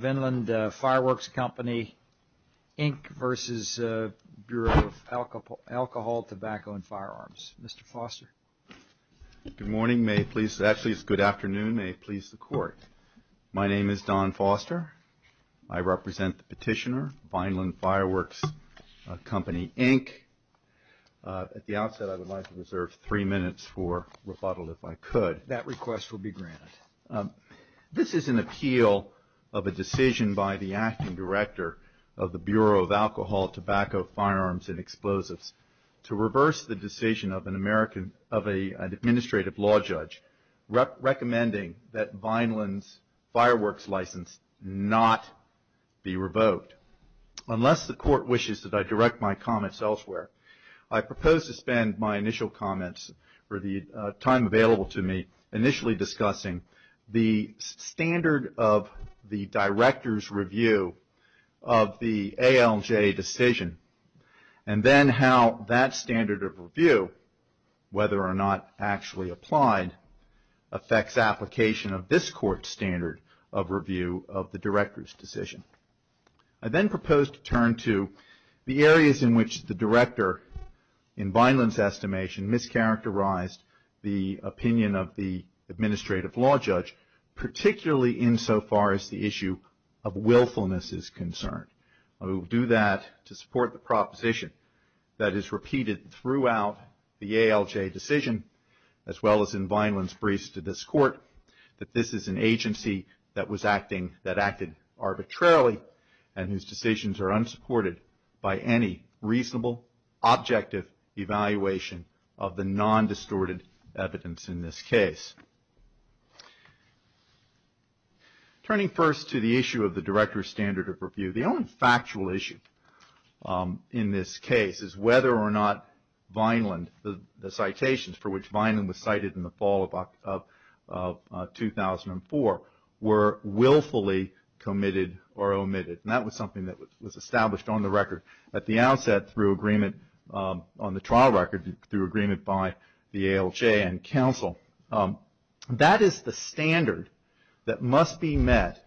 Vineland Fireworks Company, Inc. v. Bureauof Alcohol, Tobacco, and Firearms Mr. Foster Good morning, may it please, actually it's good afternoon, may it please the Court. My name is Don Foster. I represent the petitioner, Vineland Fireworks Company, Inc. At the outset, I would like to reserve three minutes for rebuttal, if I could. That request will be granted. This is an appeal of a decision by the acting director of the Bureau of Alcohol, Tobacco, Firearms, and Explosives to reverse the decision of an administrative law judge recommending that Vineland's fireworks license not be revoked. Unless the Court wishes that I direct my comments elsewhere, I propose to spend my initial comments, or the time available to me, initially discussing the standard of the director's review of the ALJ decision and then how that standard of review, whether or not actually applied, affects application of this Court's standard of review of the director's decision. I then propose to turn to the areas in which the director, in Vineland's estimation, mischaracterized the opinion of the administrative law judge, particularly insofar as the issue of willfulness is concerned. I will do that to support the proposition that is repeated throughout the ALJ decision, as well as in Vineland's briefs to this Court, that this is an agency that acted arbitrarily and whose decisions are unsupported by any reasonable, objective evaluation of the non-distorted evidence in this case. Turning first to the issue of the director's standard of review, the only factual issue in this case is whether or not Vineland, the citations for which Vineland was cited in the fall of 2004, were willfully committed or omitted. That was something that was established on the trial record through agreement by the ALJ and counsel. That is the standard that must be met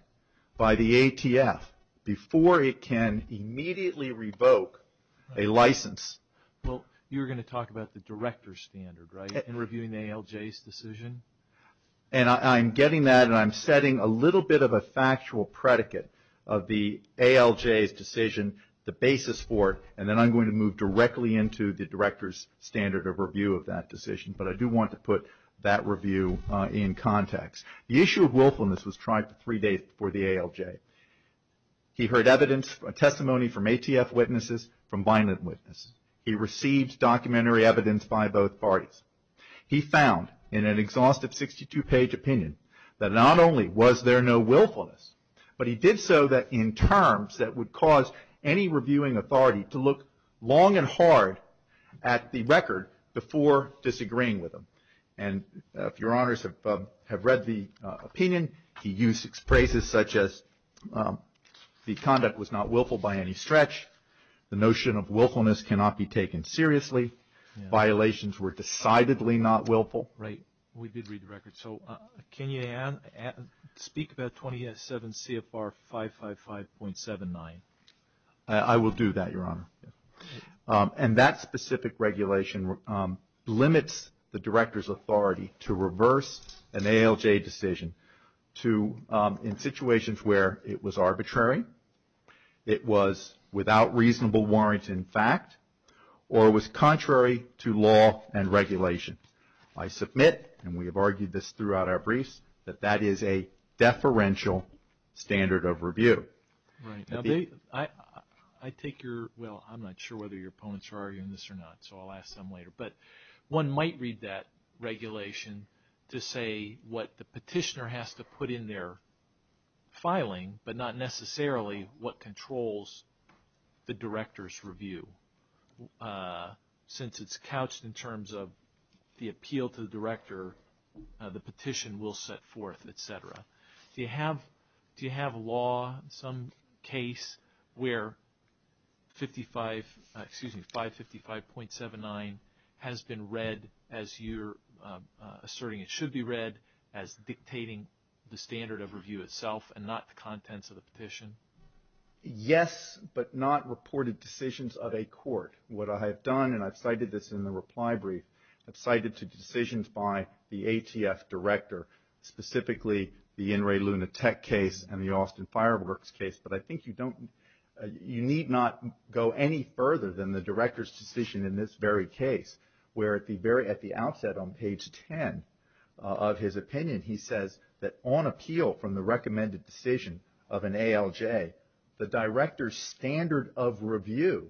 by the ATF before it can immediately revoke a license. Well, you were going to talk about the director's standard, right, in reviewing the ALJ's decision? And I'm getting that, and I'm setting a little bit of a factual predicate of the ALJ's decision, the basis for it, and then I'm going to move directly into the director's standard of review of that decision. But I do want to put that review in context. The issue of willfulness was tried three days before the ALJ. He heard evidence, testimony from ATF witnesses, from Vineland witnesses. He received documentary evidence by both parties. He found in an exhaustive 62-page opinion that not only was there no willfulness, but he did so in terms that would cause any reviewing authority to look long and hard at the record before disagreeing with him. And if your honors have read the opinion, he used phrases such as the conduct was not willful by any stretch. The notion of willfulness cannot be taken seriously. Violations were decidedly not willful. Right. We did read the record. So can you speak about 27 CFR 555.79? I will do that, your honor. And that specific regulation limits the director's authority to reverse an ALJ decision in situations where it was arbitrary, it was without reasonable warrant in fact, or it was contrary to law and regulation. I submit, and we have argued this throughout our briefs, that that is a deferential standard of review. Right. I take your – well, I'm not sure whether your opponents are arguing this or not, so I'll ask them later. But one might read that regulation to say what the petitioner has to put in their filing, but not necessarily what controls the director's review. Since it's couched in terms of the appeal to the director, the petition will set forth, et cetera. Do you have law in some case where 555.79 has been read as you're asserting it should be read as dictating the standard of review itself and not the contents of the petition? Yes, but not reported decisions of a court. What I have done, and I've cited this in the reply brief, I've cited decisions by the ATF director, specifically the In re Luna Tech case and the Austin Fireworks case. But I think you don't – you need not go any further than the director's decision in this very case, where at the outset on page 10 of his opinion, he says that on appeal from the recommended decision of an ALJ, the director's standard of review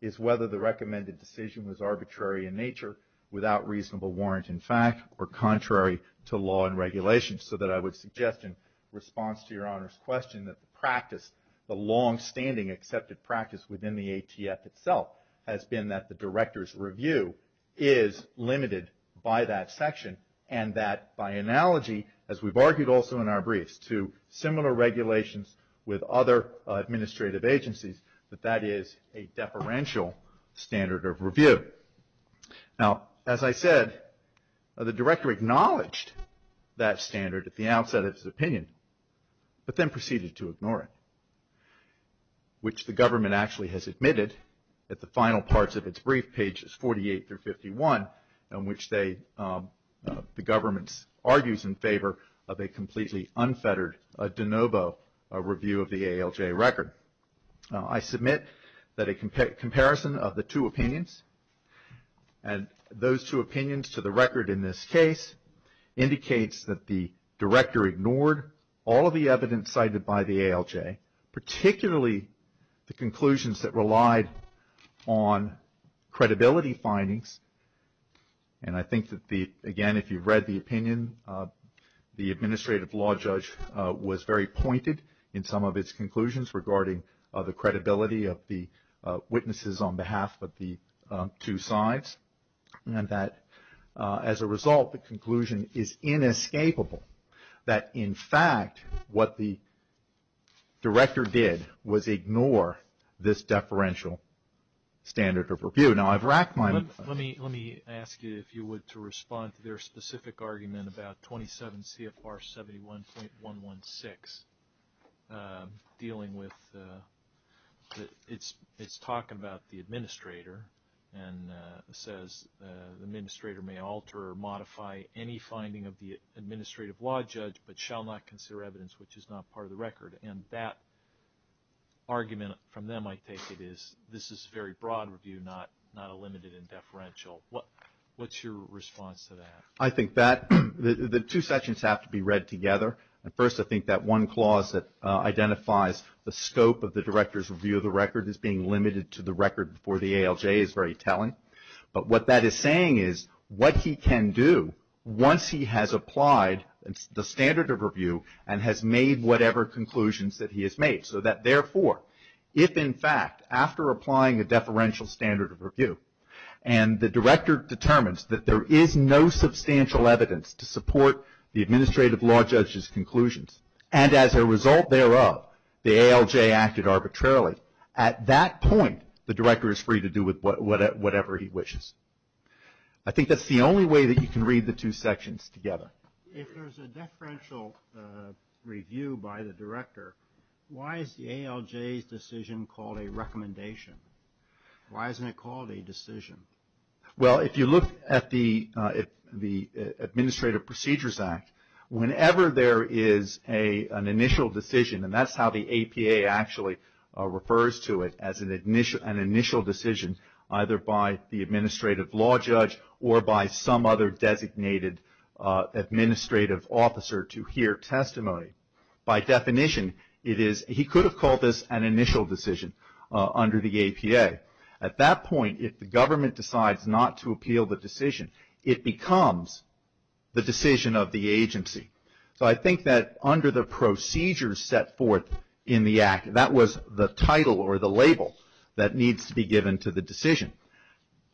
is whether the recommended decision was arbitrary in nature, without reasonable warrant in fact, or contrary to law and regulations. So that I would suggest in response to your Honor's question that the practice, the longstanding accepted practice within the ATF itself has been that the director's review is limited by that section and that by analogy, as we've argued also in our briefs to similar regulations with other administrative agencies, that that is a deferential standard of review. Now, as I said, the director acknowledged that standard at the outset of his opinion, but then proceeded to ignore it, which the government actually has admitted at the final parts of its brief, pages 48 through 51, in which the government argues in favor of a completely unfettered de novo review of the ALJ record. I submit that a comparison of the two opinions, and those two opinions to the record in this case, indicates that the director ignored all of the evidence cited by the ALJ, particularly the conclusions that relied on credibility findings. And I think that, again, if you've read the opinion, the administrative law judge was very pointed in some of its conclusions regarding the credibility of the witnesses on behalf of the two sides, and that, as a result, the conclusion is inescapable. That, in fact, what the director did was ignore this deferential standard of review. Now, I've wracked my... Let me ask you, if you would, to respond to their specific argument about 27 CFR 71.116, dealing with... It's talking about the administrator and says, the administrator may alter or modify any finding of the administrative law judge, but shall not consider evidence which is not part of the record. And that argument from them, I take it, is this is a very broad review, not a limited and deferential. What's your response to that? I think that the two sections have to be read together. First, I think that one clause that identifies the scope of the director's review of the record as being limited to the record before the ALJ is very telling. But what that is saying is what he can do once he has applied the standard of review and has made whatever conclusions that he has made, so that, therefore, if, in fact, after applying a deferential standard of review and the director determines that there is no substantial evidence to support the administrative law judge's conclusions, and as a result thereof the ALJ acted arbitrarily, at that point the director is free to do whatever he wishes. I think that's the only way that you can read the two sections together. If there's a deferential review by the director, why is the ALJ's decision called a recommendation? Why isn't it called a decision? Well, if you look at the Administrative Procedures Act, whenever there is an initial decision, and that's how the APA actually refers to it, as an initial decision either by the administrative law judge or by some other designated administrative officer to hear testimony. By definition, he could have called this an initial decision under the APA. At that point, if the government decides not to appeal the decision, it becomes the decision of the agency. So I think that under the procedures set forth in the Act, that was the title or the label that needs to be given to the decision.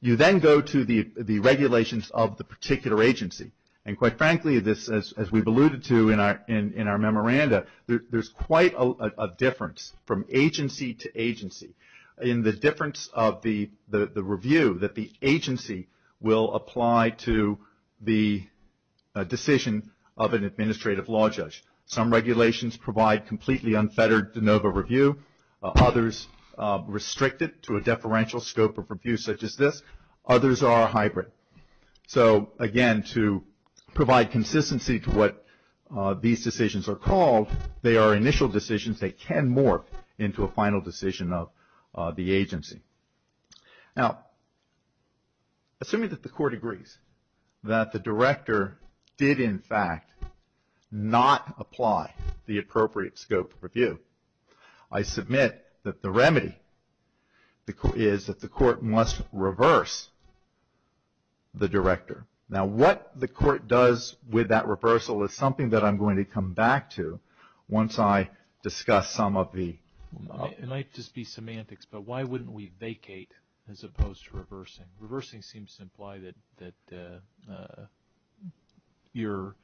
You then go to the regulations of the particular agency, and quite frankly, as we've alluded to in our memoranda, there's quite a difference from agency to agency. In the difference of the review, that the agency will apply to the decision of an administrative law judge. Some regulations provide completely unfettered de novo review. Others restrict it to a deferential scope of review such as this. Others are hybrid. So again, to provide consistency to what these decisions are called, they are initial decisions that can morph into a final decision of the agency. Now, assuming that the court agrees that the director did, in fact, not apply the appropriate scope of review, I submit that the remedy is that the court must reverse the director. Now, what the court does with that reversal is something that I'm going to come back to once I discuss some of the... It might just be semantics, but why wouldn't we vacate as opposed to reversing? Reversing seems to imply that your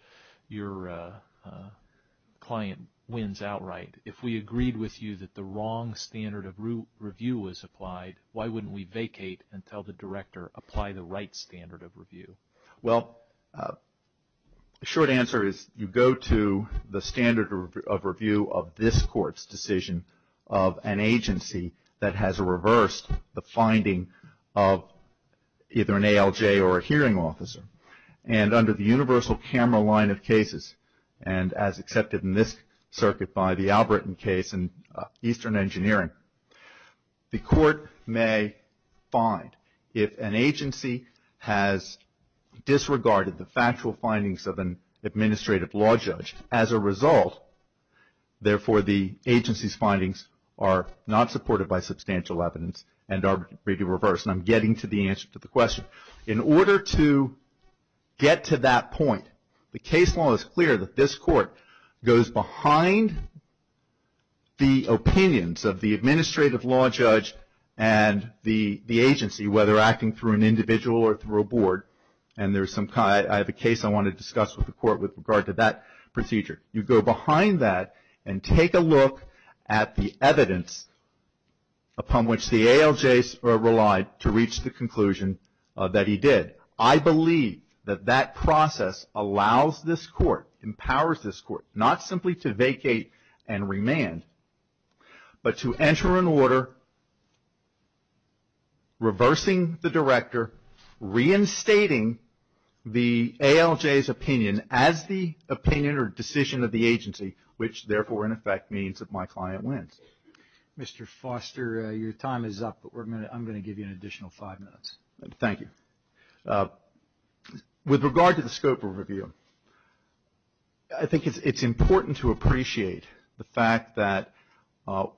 client wins outright. If we agreed with you that the wrong standard of review was applied, why wouldn't we vacate and tell the director, apply the right standard of review? Well, the short answer is you go to the standard of review of this court's decision of an agency that has reversed the finding of either an ALJ or a hearing officer. And under the universal camera line of cases, and as accepted in this circuit by the Albritton case in Eastern Engineering, the court may find if an agency has disregarded the factual findings of an administrative law judge, as a result, therefore, the agency's findings are not supported by substantial evidence and are agreed to reverse. And I'm getting to the answer to the question. In order to get to that point, the case law is clear that this court goes behind the opinions of the administrative law judge and the agency, whether acting through an individual or through a board. And I have a case I want to discuss with the court with regard to that procedure. You go behind that and take a look at the evidence upon which the ALJs relied to reach the conclusion that he did. I believe that that process allows this court, empowers this court, not simply to vacate and remand, but to enter an order reversing the director, reinstating the ALJ's opinion as the opinion or decision of the agency, which therefore, in effect, means that my client wins. Mr. Foster, your time is up, but I'm going to give you an additional five minutes. Thank you. With regard to the scope of review, I think it's important to appreciate the fact that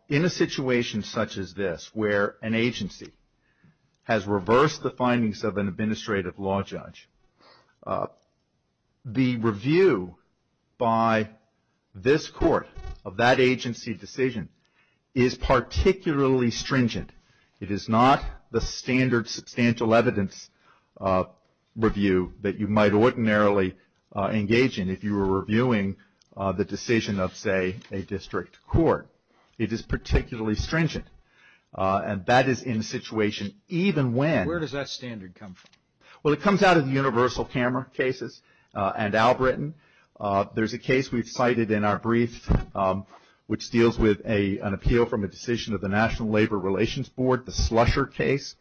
in a situation such as this, where an agency has reversed the findings of an administrative law judge, the review by this court of that agency decision is particularly stringent. It is not the standard substantial evidence review that you might ordinarily engage in if you were reviewing the decision of, say, a district court. It is particularly stringent, and that is in a situation even when… Where does that standard come from? Well, it comes out of the universal camera cases and Albritton. There's a case we've cited in our brief, which deals with an appeal from a decision of the National Labor Relations Board, the Slusher case,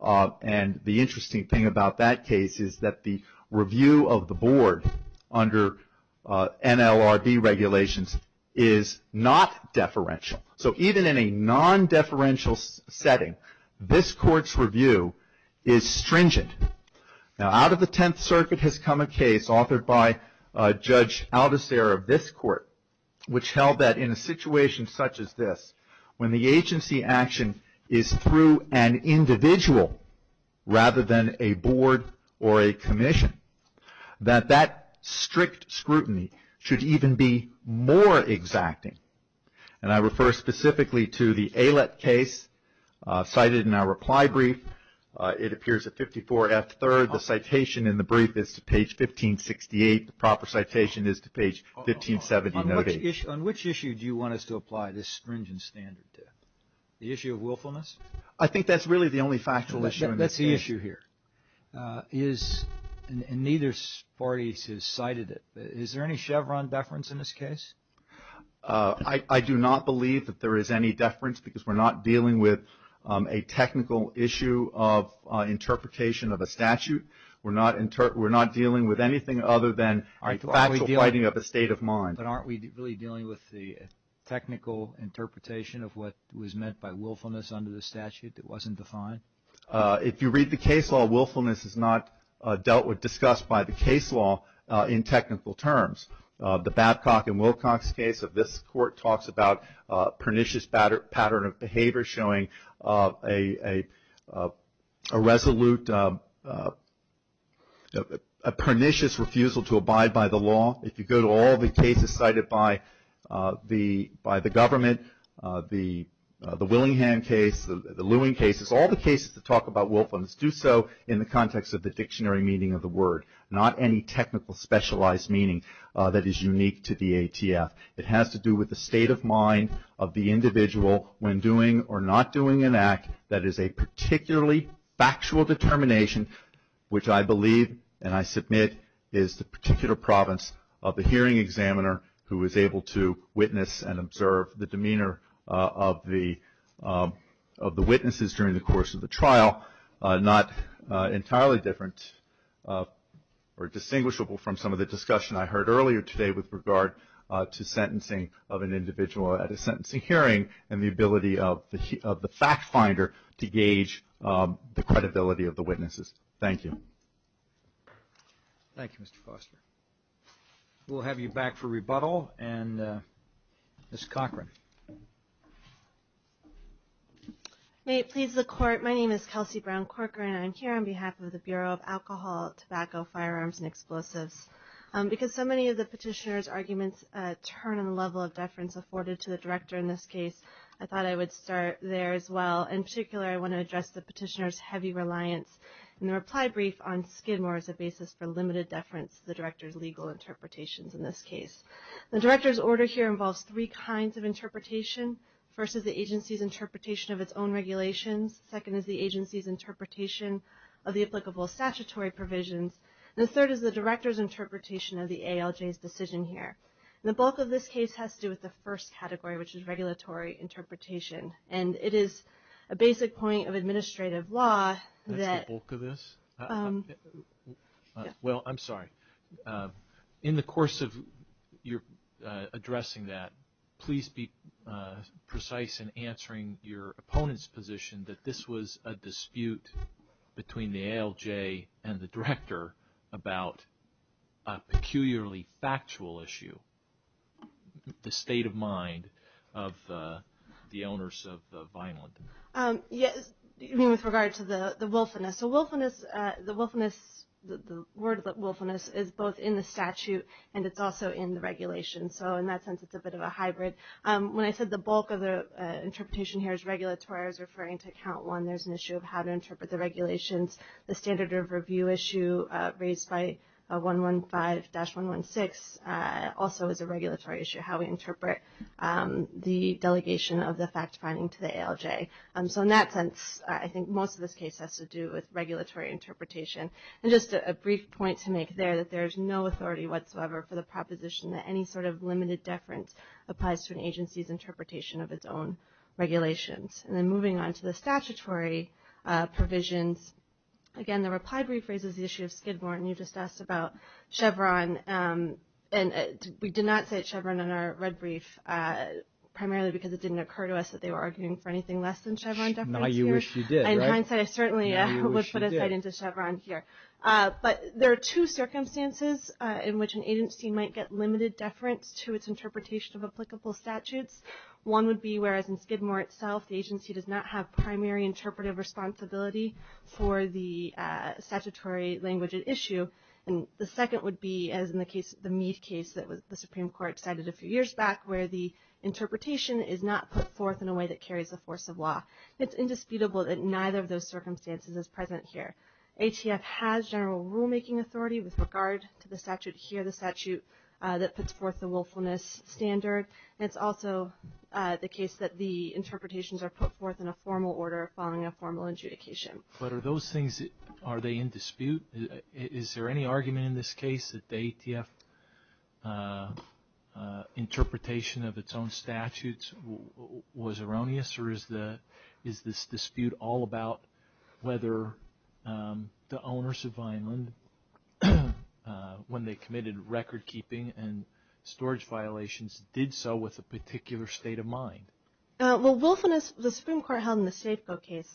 and the interesting thing about that case is that the review of the board under NLRB regulations is not deferential. So, even in a non-deferential setting, this court's review is stringent. Now, out of the Tenth Circuit has come a case authored by Judge Aldiserra of this court, which held that in a situation such as this, when the agency action is through an individual, rather than a board or a commission, that that strict scrutiny should even be more exacting. And I refer specifically to the Allet case cited in our reply brief. It appears at 54F3rd. The citation in the brief is to page 1568. The proper citation is to page 1570. On which issue do you want us to apply this stringent standard to? The issue of willfulness? I think that's really the only factual issue in this case. That's the issue here. And neither party has cited it. Is there any Chevron deference in this case? I do not believe that there is any deference, because we're not dealing with a technical issue of interpretation of a statute. We're not dealing with anything other than factual fighting of a state of mind. But aren't we really dealing with the technical interpretation of what was meant by willfulness under the statute that wasn't defined? If you read the case law, willfulness is not dealt with, discussed by the case law in technical terms. The Babcock and Wilcox case of this court talks about pernicious pattern of behavior showing a resolute, a pernicious refusal to abide by the law. If you go to all the cases cited by the government, the Willingham case, the Lewin cases, all the cases that talk about willfulness do so in the context of the dictionary meaning of the word, not any technical specialized meaning that is unique to the ATF. It has to do with the state of mind of the individual when doing or not doing an act that is a particularly factual determination, which I believe and I submit is the particular province of the hearing examiner who is able to witness and observe the demeanor of the witnesses during the course of the trial. Not entirely different or distinguishable from some of the discussion I heard earlier today with regard to sentencing of an individual at a sentencing hearing and the ability of the fact finder to gauge the credibility of the witnesses. Thank you. Thank you, Mr. Foster. We'll have you back for rebuttal. And Ms. Cochran. May it please the Court. My name is Kelsey Brown-Cochran. I'm here on behalf of the Bureau of Alcohol, Tobacco, Firearms, and Explosives. Because so many of the petitioner's arguments turn on the level of deference afforded to the director in this case, I thought I would start there as well. In particular, I want to address the petitioner's heavy reliance in the reply brief on Skidmore as a basis for limited deference to the director's legal interpretations in this case. The director's order here involves three kinds of interpretation. First is the agency's interpretation of its own regulations. Second is the agency's interpretation of the applicable statutory provisions. And the third is the director's interpretation of the ALJ's decision here. And the bulk of this case has to do with the first category, which is regulatory interpretation. And it is a basic point of administrative law. That's the bulk of this? Well, I'm sorry. In the course of your addressing that, please be precise in answering your opponent's position that this was a dispute between the ALJ and the director about a peculiarly factual issue, the state of mind of the owners of the Vineland. You mean with regard to the wilfulness? The word wilfulness is both in the statute and it's also in the regulation. So in that sense, it's a bit of a hybrid. When I said the bulk of the interpretation here is regulatory, I was referring to count one. There's an issue of how to interpret the regulations. The standard of review issue raised by 115-116 also is a regulatory issue, how we interpret the delegation of the fact-finding to the ALJ. So in that sense, I think most of this case has to do with regulatory interpretation. And just a brief point to make there that there is no authority whatsoever for the proposition that any sort of limited deference applies to an agency's interpretation of its own regulations. And then moving on to the statutory provisions, again, the reply brief raises the issue of Skidmore. And you just asked about Chevron. And we did not cite Chevron in our red brief primarily because it didn't occur to us that they were arguing for anything less than Chevron deference here. Now you wish you did, right? In hindsight, I certainly would put a cite into Chevron here. But there are two circumstances in which an agency might get limited deference to its interpretation of applicable statutes. One would be whereas in Skidmore itself, the agency does not have primary interpretive responsibility for the statutory language at issue. And the second would be, as in the case of the Meade case that the Supreme Court cited a few years back, where the interpretation is not put forth in a way that carries the force of law. It's indisputable that neither of those circumstances is present here. ATF has general rulemaking authority with regard to the statute here, the statute that puts forth the willfulness standard. And it's also the case that the interpretations are put forth in a formal order following a formal adjudication. But are those things, are they in dispute? Is there any argument in this case that the ATF interpretation of its own statutes was erroneous? Or is this dispute all about whether the owners of Vineland, when they committed recordkeeping and storage violations, did so with a particular state of mind? Well, willfulness, the Supreme Court held in the Safeco case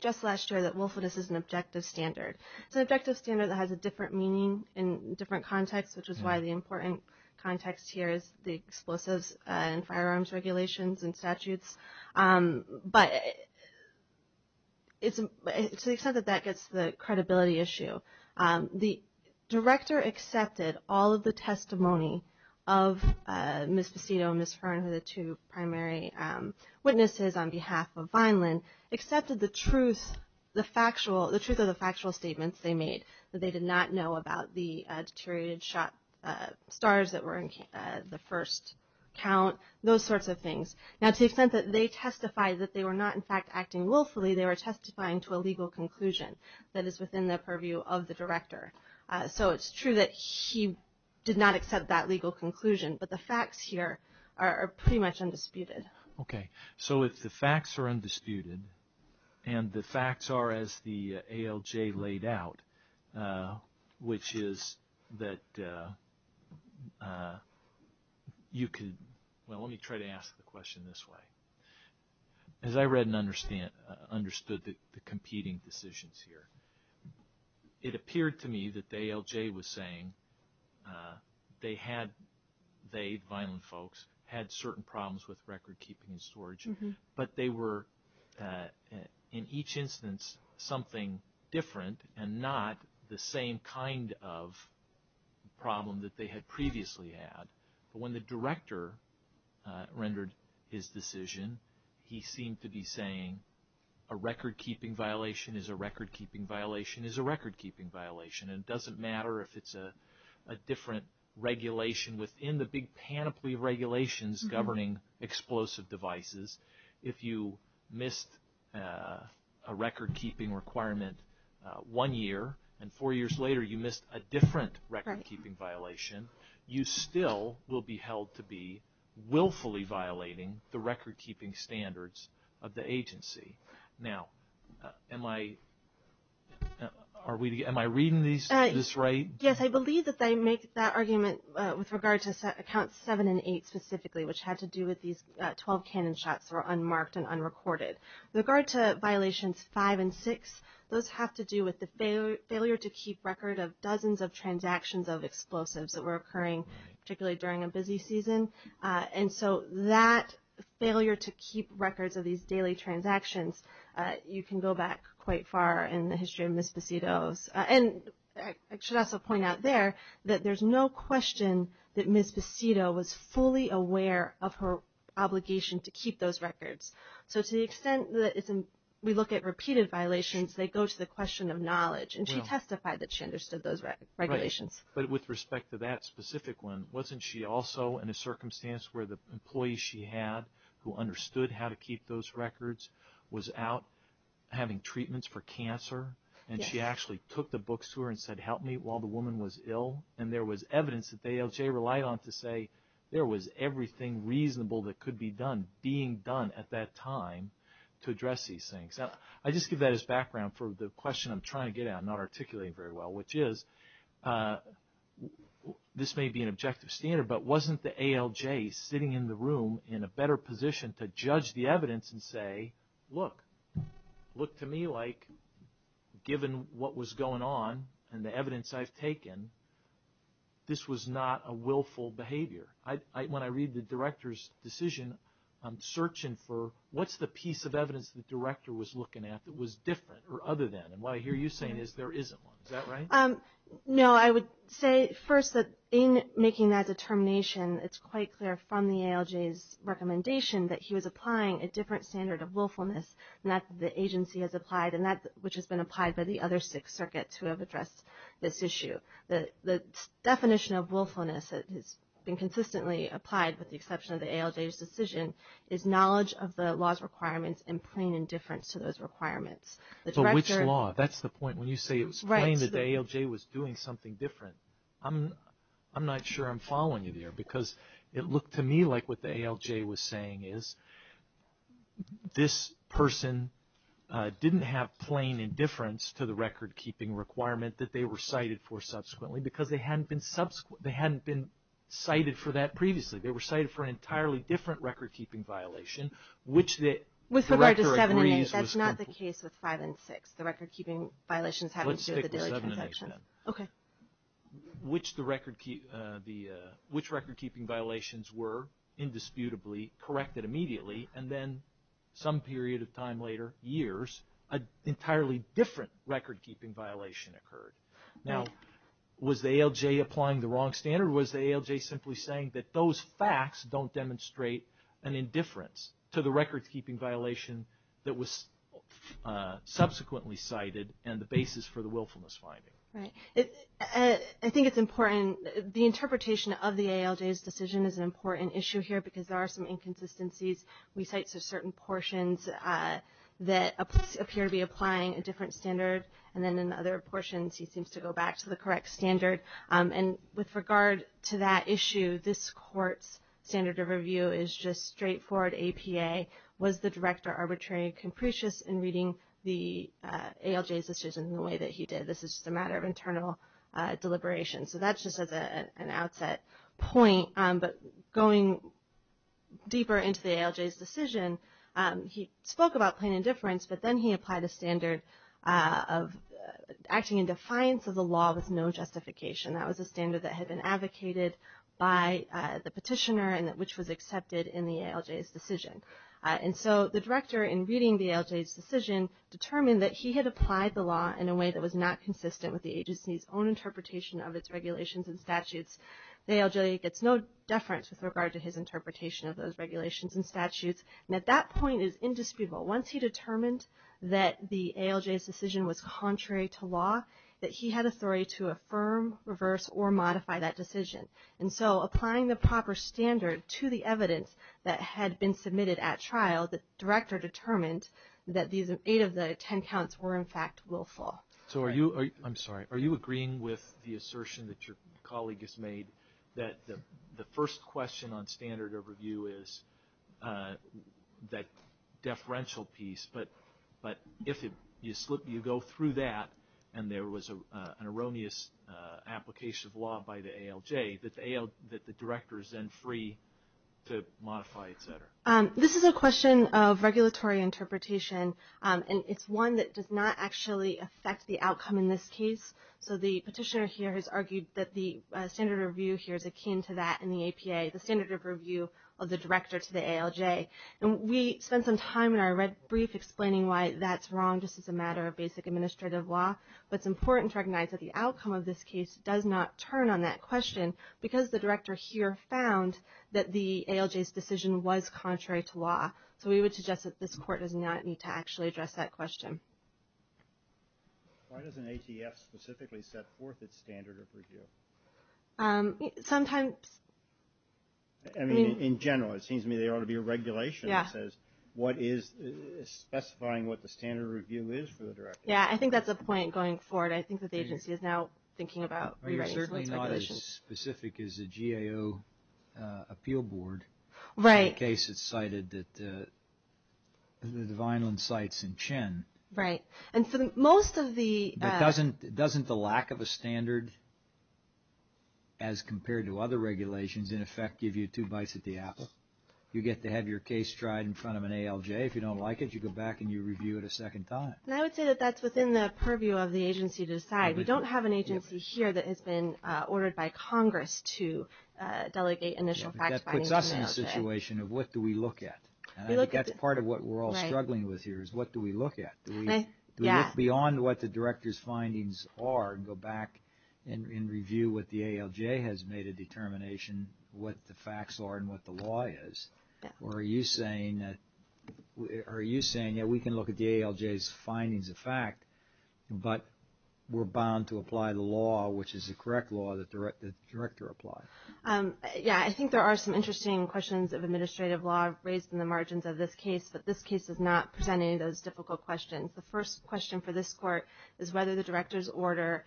just last year that willfulness is an objective standard. It's an objective standard that has a different meaning in different contexts, which is why the important context here is the explosives and firearms regulations and statutes. But to the extent that that gets to the credibility issue, the director accepted all of the testimony of Ms. Passito and Ms. Fern, who are the two primary witnesses on behalf of Vineland, accepted the truth of the factual statements they made, that they did not know about the deteriorated shot stars that were in the first count, those sorts of things. Now, to the extent that they testified that they were not, in fact, acting willfully, they were testifying to a legal conclusion that is within the purview of the director. So it's true that he did not accept that legal conclusion, but the facts here are pretty much undisputed. Okay. So if the facts are undisputed, and the facts are as the ALJ laid out, which is that you could, well, let me try to ask the question this way. As I read and understood the competing decisions here, it appeared to me that the ALJ was saying they had, they, Vineland folks, had certain problems with recordkeeping and storage. But they were, in each instance, something different and not the same kind of problem that they had previously had. But when the director rendered his decision, he seemed to be saying, a recordkeeping violation is a recordkeeping violation is a recordkeeping violation. It doesn't matter if it's a different regulation within the big panoply of regulations governing explosive devices. If you missed a recordkeeping requirement one year, and four years later you missed a different recordkeeping violation, you still will be held to be willfully violating the recordkeeping standards of the agency. Now, am I reading this right? Yes. I believe that they make that argument with regard to Accounts 7 and 8 specifically, which had to do with these 12 cannon shots that were unmarked and unrecorded. With regard to Violations 5 and 6, those have to do with the failure to keep record of dozens of transactions of explosives that were occurring, particularly during a busy season. And so that failure to keep records of these daily transactions, you can go back quite far in the history of Ms. Basito's. And I should also point out there that there's no question that Ms. Basito was fully aware of her obligation to keep those records. So to the extent that we look at repeated violations, they go to the question of knowledge. And she testified that she understood those regulations. But with respect to that specific one, wasn't she also in a circumstance where the employee she had who understood how to keep those records was out having treatments for cancer? And she actually took the books to her and said, help me, while the woman was ill. And there was evidence that the ALJ relied on to say there was everything reasonable that could be done, being done at that time to address these things. Now, I just give that as background for the question I'm trying to get at, which I'm not articulating very well, which is, this may be an objective standard, but wasn't the ALJ sitting in the room in a better position to judge the evidence and say, look, look to me like given what was going on and the evidence I've taken, this was not a willful behavior. When I read the director's decision, I'm searching for what's the piece of evidence the director was looking at that was different or other than. And what I hear you saying is there isn't one. Is that right? No, I would say first that in making that determination, it's quite clear from the ALJ's recommendation that he was applying a different standard of willfulness and that the agency has applied, and that which has been applied by the other six circuits who have addressed this issue. The definition of willfulness that has been consistently applied with the exception of the ALJ's decision is knowledge of the law's requirements and plain indifference to those requirements. So which law? That's the point. When you say it was plain that the ALJ was doing something different, I'm not sure I'm following you there, because it looked to me like what the ALJ was saying is this person didn't have plain indifference to the record-keeping requirement that they were cited for subsequently because they hadn't been cited for that previously. They were cited for an entirely different record-keeping violation, which the director agrees was complete. So let's stick with the case with five and six, the record-keeping violations having to do with the daily transactions. Let's stick with seven and eight then. Okay. Which record-keeping violations were indisputably corrected immediately, and then some period of time later, years, an entirely different record-keeping violation occurred. Now, was the ALJ applying the wrong standard, or was the ALJ simply saying that those facts don't demonstrate an indifference to the record-keeping violation that was subsequently cited and the basis for the willfulness finding? Right. I think it's important, the interpretation of the ALJ's decision is an important issue here because there are some inconsistencies. We cite certain portions that appear to be applying a different standard, and then in other portions he seems to go back to the correct standard. And with regard to that issue, this Court's standard of review is just straightforward APA. Was the director arbitrary and capricious in reading the ALJ's decision in the way that he did? This is just a matter of internal deliberation. So that's just as an outset point. But going deeper into the ALJ's decision, he spoke about plain indifference, but then he applied a standard of acting in defiance of the law with no justification. That was a standard that had been advocated by the petitioner and which was accepted in the ALJ's decision. And so the director, in reading the ALJ's decision, determined that he had applied the law in a way that was not consistent with the agency's own interpretation of its regulations and statutes. The ALJ gets no deference with regard to his interpretation of those regulations and statutes, and at that point is indisputable. Once he determined that the ALJ's decision was contrary to law, that he had authority to affirm, reverse, or modify that decision. And so applying the proper standard to the evidence that had been submitted at trial, the director determined that eight of the ten counts were in fact willful. So are you, I'm sorry, are you agreeing with the assertion that your colleague has made that the first question on standard of review is that deferential piece, but if you go through that and there was an erroneous application of law by the ALJ, that the director is then free to modify, et cetera? This is a question of regulatory interpretation, and it's one that does not actually affect the outcome in this case. So the petitioner here has argued that the standard of review here is akin to that in the APA, the standard of review of the director to the ALJ. And we spent some time in our brief explaining why that's wrong, just as a matter of basic administrative law. But it's important to recognize that the outcome of this case does not turn on that question because the director here found that the ALJ's decision was contrary to law. So we would suggest that this court does not need to actually address that question. Why doesn't ATF specifically set forth its standard of review? Sometimes. I mean, in general, it seems to me there ought to be a regulation that says what is specifying what the standard of review is for the director. Yeah, I think that's a point going forward. I think that the agency is now thinking about rewriting some of its regulations. You're certainly not as specific as the GAO appeal board. Right. In the case that's cited that Vineland cites in Chen. Right. And so most of the – But doesn't the lack of a standard, as compared to other regulations, in effect give you two bites at the ass? You get to have your case tried in front of an ALJ. If you don't like it, you go back and you review it a second time. And I would say that that's within the purview of the agency to decide. We don't have an agency here that has been ordered by Congress to delegate initial fact-finding to an ALJ. We're in a situation of what do we look at? And I think that's part of what we're all struggling with here is what do we look at? Do we look beyond what the director's findings are and go back and review what the ALJ has made a determination, what the facts are and what the law is? Or are you saying that we can look at the ALJ's findings of fact, but we're bound to apply the law, which is the correct law that the director applied? Yeah, I think there are some interesting questions of administrative law raised in the margins of this case, but this case is not presenting those difficult questions. The first question for this court is whether the director's order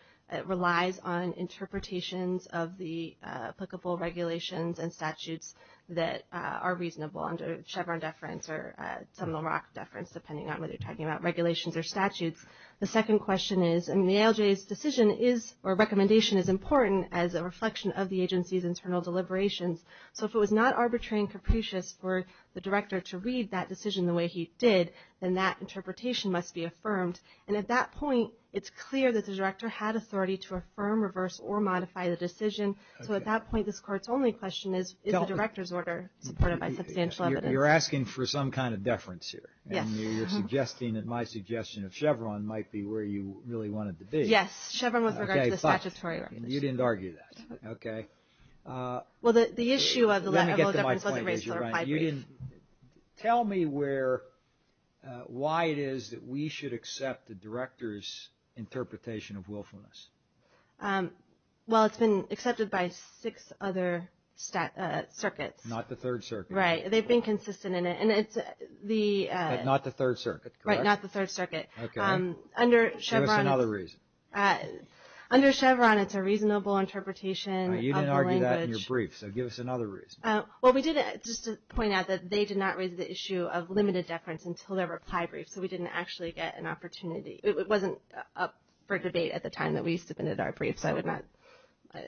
relies on interpretations of the applicable regulations and statutes that are reasonable under Chevron deference or Seminole Rock deference, depending on whether you're talking about regulations or statutes. The second question is, I mean, the ALJ's decision is or recommendation is important as a reflection of the agency's internal deliberations. So if it was not arbitrary and capricious for the director to read that decision the way he did, then that interpretation must be affirmed. And at that point, it's clear that the director had authority to affirm, reverse, or modify the decision. So at that point, this court's only question is, is the director's order supported by substantial evidence? You're asking for some kind of deference here. And you're suggesting that my suggestion of Chevron might be where you really want it to be. Yes, Chevron with regard to the statutory regulation. You didn't argue that. Okay. Well, the issue of the letter of deference wasn't raised to the reply brief. Tell me why it is that we should accept the director's interpretation of willfulness. Well, it's been accepted by six other circuits. Not the Third Circuit. Right. They've been consistent in it. But not the Third Circuit, correct? Right, not the Third Circuit. Okay. Give us another reason. Under Chevron, it's a reasonable interpretation of the language. You didn't argue that in your brief, so give us another reason. Well, we did, just to point out that they did not raise the issue of limited deference until their reply brief, so we didn't actually get an opportunity. It wasn't up for debate at the time that we submitted our brief, so I would not. How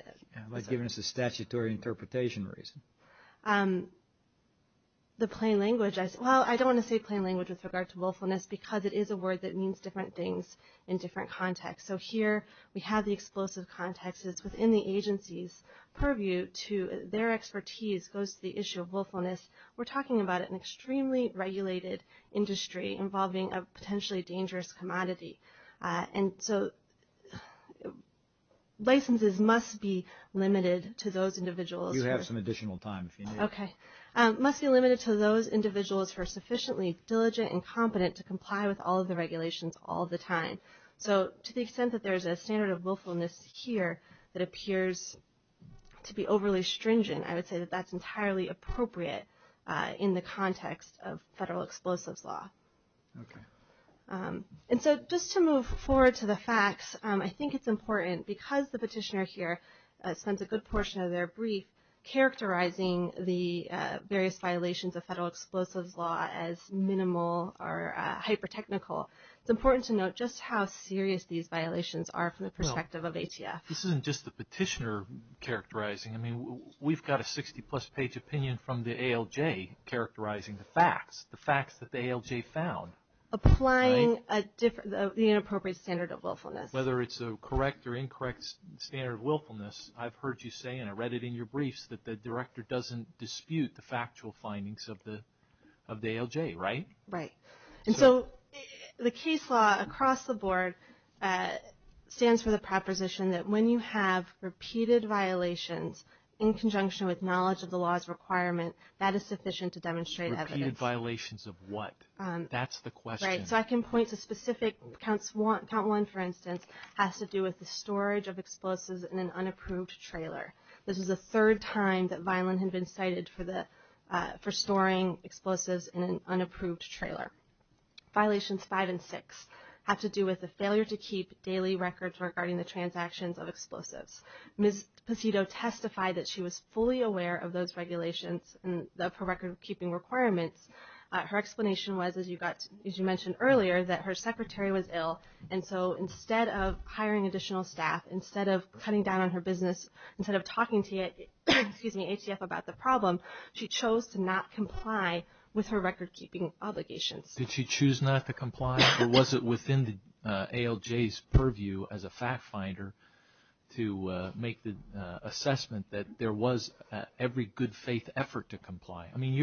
about giving us a statutory interpretation reason? The plain language, well, I don't want to say plain language with regard to willfulness because it is a word that means different things in different contexts. So here we have the explosive context. It's within the agency's purview to their expertise goes to the issue of willfulness. We're talking about an extremely regulated industry involving a potentially dangerous commodity. And so licenses must be limited to those individuals. You have some additional time if you need it. Okay. Must be limited to those individuals who are sufficiently diligent and competent to comply with all of the regulations all the time. So to the extent that there's a standard of willfulness here that appears to be overly stringent, I would say that that's entirely appropriate in the context of federal explosives law. Okay. And so just to move forward to the facts, I think it's important because the petitioner here spends a good portion of their brief characterizing the various violations of federal explosives law as minimal or hyper-technical. It's important to note just how serious these violations are from the perspective of ATF. This isn't just the petitioner characterizing. I mean, we've got a 60-plus page opinion from the ALJ characterizing the facts, the facts that the ALJ found. Applying the inappropriate standard of willfulness. Whether it's a correct or incorrect standard of willfulness, I've heard you say, and I read it in your briefs, that the director doesn't dispute the factual findings of the ALJ, right? Right. And so the case law across the board stands for the proposition that when you have repeated violations in conjunction with knowledge of the law's requirement, that is sufficient to demonstrate evidence. Repeated violations of what? That's the question. Right. So I can point to specific, Count 1, for instance, has to do with the storage of explosives in an unapproved trailer. This is the third time that Vineland had been cited for storing explosives in an unapproved trailer. Violations 5 and 6 have to do with the failure to keep daily records regarding the transactions of explosives. Ms. Pacito testified that she was fully aware of those regulations and of her record-keeping requirements. Her explanation was, as you mentioned earlier, that her secretary was ill, and so instead of hiring additional staff, instead of cutting down on her business, instead of talking to ATF about the problem, she chose to not comply with her record-keeping obligations. Did she choose not to comply, or was it within the ALJ's purview as a fact-finder to make the assessment that there was every good faith effort to comply? I mean,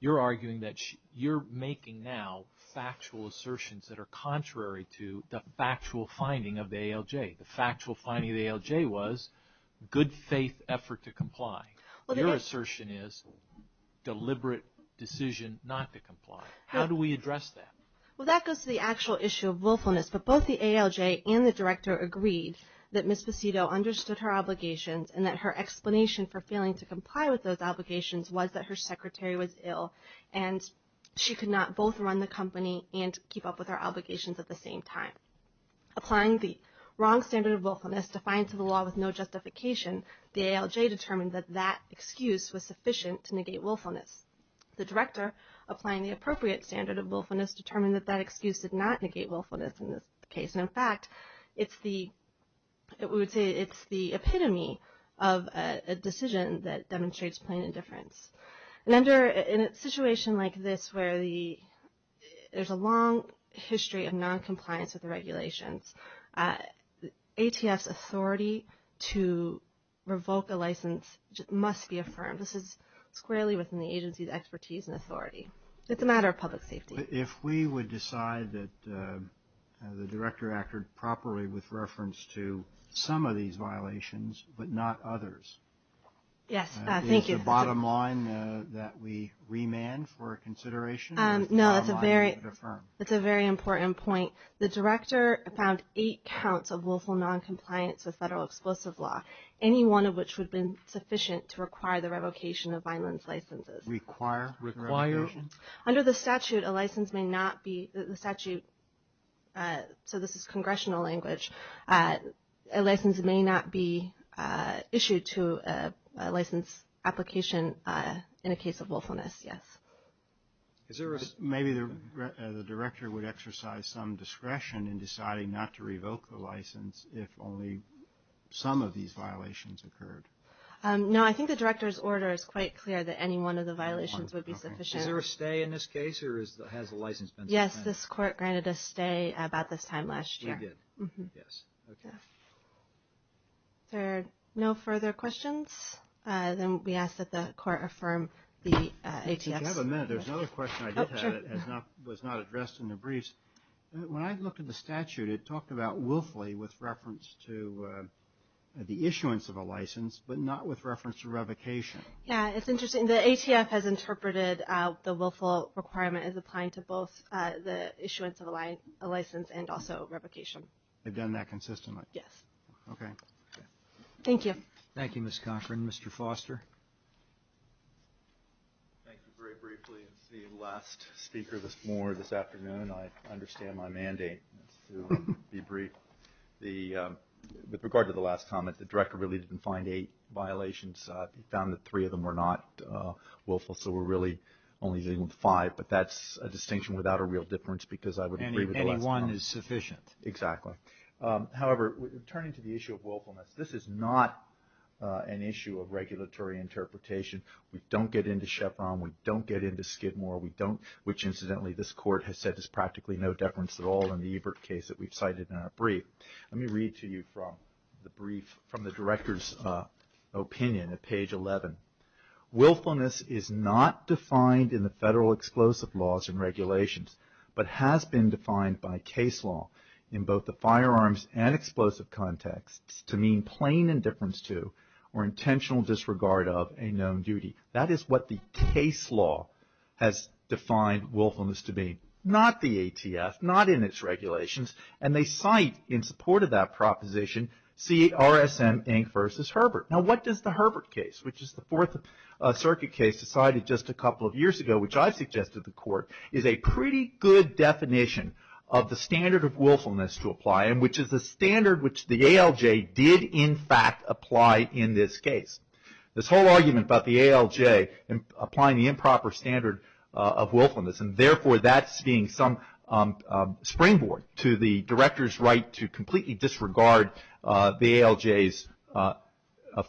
you're arguing that you're making now factual assertions that are contrary to the factual finding of the ALJ. The factual finding of the ALJ was good faith effort to comply. Your assertion is deliberate decision not to comply. How do we address that? Well, that goes to the actual issue of willfulness, but both the ALJ and the Director agreed that Ms. Pacito understood her obligations and that her explanation for failing to comply with those obligations was that her secretary was ill and she could not both run the company and keep up with her obligations at the same time. Applying the wrong standard of willfulness defined to the law with no justification, the ALJ determined that that excuse was sufficient to negate willfulness. The Director, applying the appropriate standard of willfulness, determined that that excuse did not negate willfulness in this case. And, in fact, it's the epitome of a decision that demonstrates plain indifference. And under a situation like this where there's a long history of noncompliance with the regulations, ATF's authority to revoke a license must be affirmed. This is squarely within the agency's expertise and authority. It's a matter of public safety. If we would decide that the Director acted properly with reference to some of these violations but not others. Yes, thank you. Is the bottom line that we remand for consideration? No, that's a very important point. The Director found eight counts of willful noncompliance with federal explosive law, any one of which would have been sufficient to require the revocation of violence licenses. Require the revocation? Under the statute, a license may not be issued to a license application in a case of willfulness, yes. Maybe the Director would exercise some discretion in deciding not to revoke the license if only some of these violations occurred. No, I think the Director's order is quite clear that any one of the violations would be sufficient. Is there a stay in this case or has the license been suspended? Yes, this Court granted a stay about this time last year. Yes, we did. Yes, okay. Is there no further questions? Then we ask that the Court affirm the ATF's. If you have a minute, there's another question I did have that was not addressed in the briefs. When I looked at the statute, it talked about willfully with reference to the issuance of a license, but not with reference to revocation. Yes, it's interesting. The ATF has interpreted the willful requirement as applying to both the issuance of a license and also revocation. They've done that consistently? Yes. Okay. Thank you. Thank you, Ms. Cochran. Mr. Foster? Thank you very briefly. It's the last speaker this afternoon. I understand my mandate to be brief. With regard to the last comment, the Director really didn't find eight violations. He found that three of them were not willful, so we're really only dealing with five, but that's a distinction without a real difference because I would agree with the last comment. Any one is sufficient. Exactly. However, turning to the issue of willfulness, this is not an issue of regulatory interpretation. We don't get into Chevron. We don't get into Skidmore. Incidentally, this Court has said there's practically no deference at all in the Evert case that we've cited in our brief. Let me read to you from the Director's opinion at page 11. Willfulness is not defined in the federal explosive laws and regulations, but has been defined by case law in both the firearms and explosive context to mean plain indifference to or intentional disregard of a known duty. That is what the case law has defined willfulness to be, not the ATF, not in its regulations, and they cite in support of that proposition CRSM Inc. v. Herbert. Now, what does the Herbert case, which is the Fourth Circuit case decided just a couple of years ago, which I've suggested to the Court, is a pretty good definition of the standard of willfulness to apply and which is the standard which the ALJ did, in fact, apply in this case. This whole argument about the ALJ applying the improper standard of willfulness and therefore that's being some springboard to the Director's right to completely disregard the ALJ's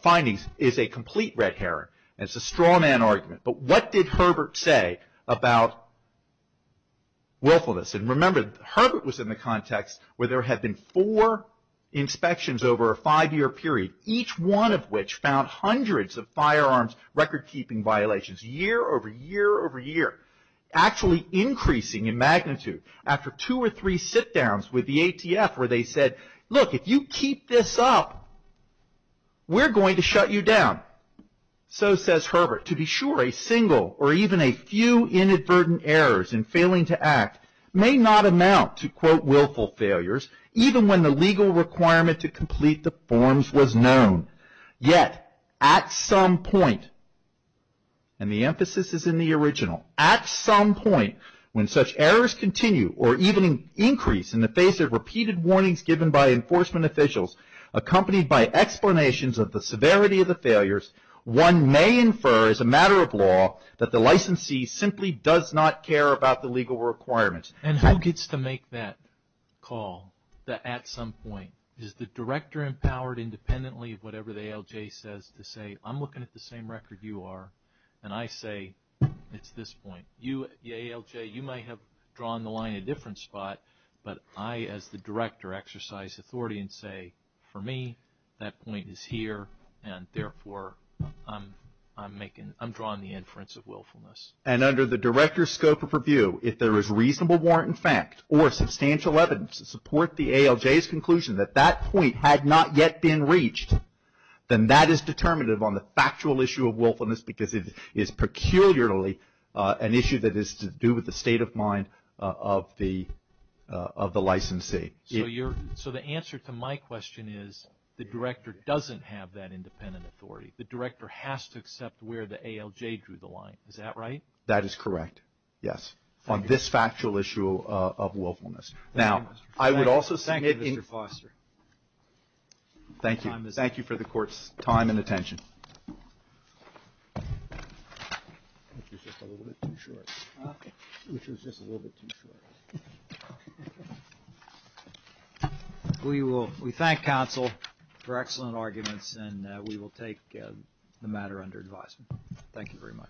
findings, is a complete red herring. It's a straw man argument. But what did Herbert say about willfulness? And remember, Herbert was in the context where there had been four inspections over a five-year period, each one of which found hundreds of firearms record-keeping violations year over year over year. Actually increasing in magnitude after two or three sit-downs with the ATF where they said, look, if you keep this up, we're going to shut you down. So, says Herbert, to be sure a single or even a few inadvertent errors in failing to act may not amount to, quote, willful failures even when the legal requirement to complete the forms was known. Yet, at some point, and the emphasis is in the original, at some point when such errors continue or even increase in the face of repeated warnings given by enforcement officials, accompanied by explanations of the severity of the failures, one may infer as a matter of law that the licensee simply does not care about the legal requirements. And who gets to make that call, the at some point? Is the director empowered independently of whatever the ALJ says to say, I'm looking at the same record you are, and I say, it's this point. The ALJ, you may have drawn the line a different spot, but I as the director exercise authority and say, for me, that point is here, and therefore I'm making, I'm drawing the inference of willfulness. And under the director's scope of review, if there is reasonable warrant in fact or substantial evidence to support the ALJ's conclusion that that point had not yet been reached, then that is determinative on the factual issue of willfulness because it is peculiarly an issue that is to do with the state of mind of the licensee. So the answer to my question is the director doesn't have that independent authority. The director has to accept where the ALJ drew the line. Is that right? That is correct, yes. On this factual issue of willfulness. Thank you, Mr. Foster. Thank you. Thank you for the court's time and attention. We thank counsel for excellent arguments, and we will take the matter under advisement. Thank you very much. Thank you.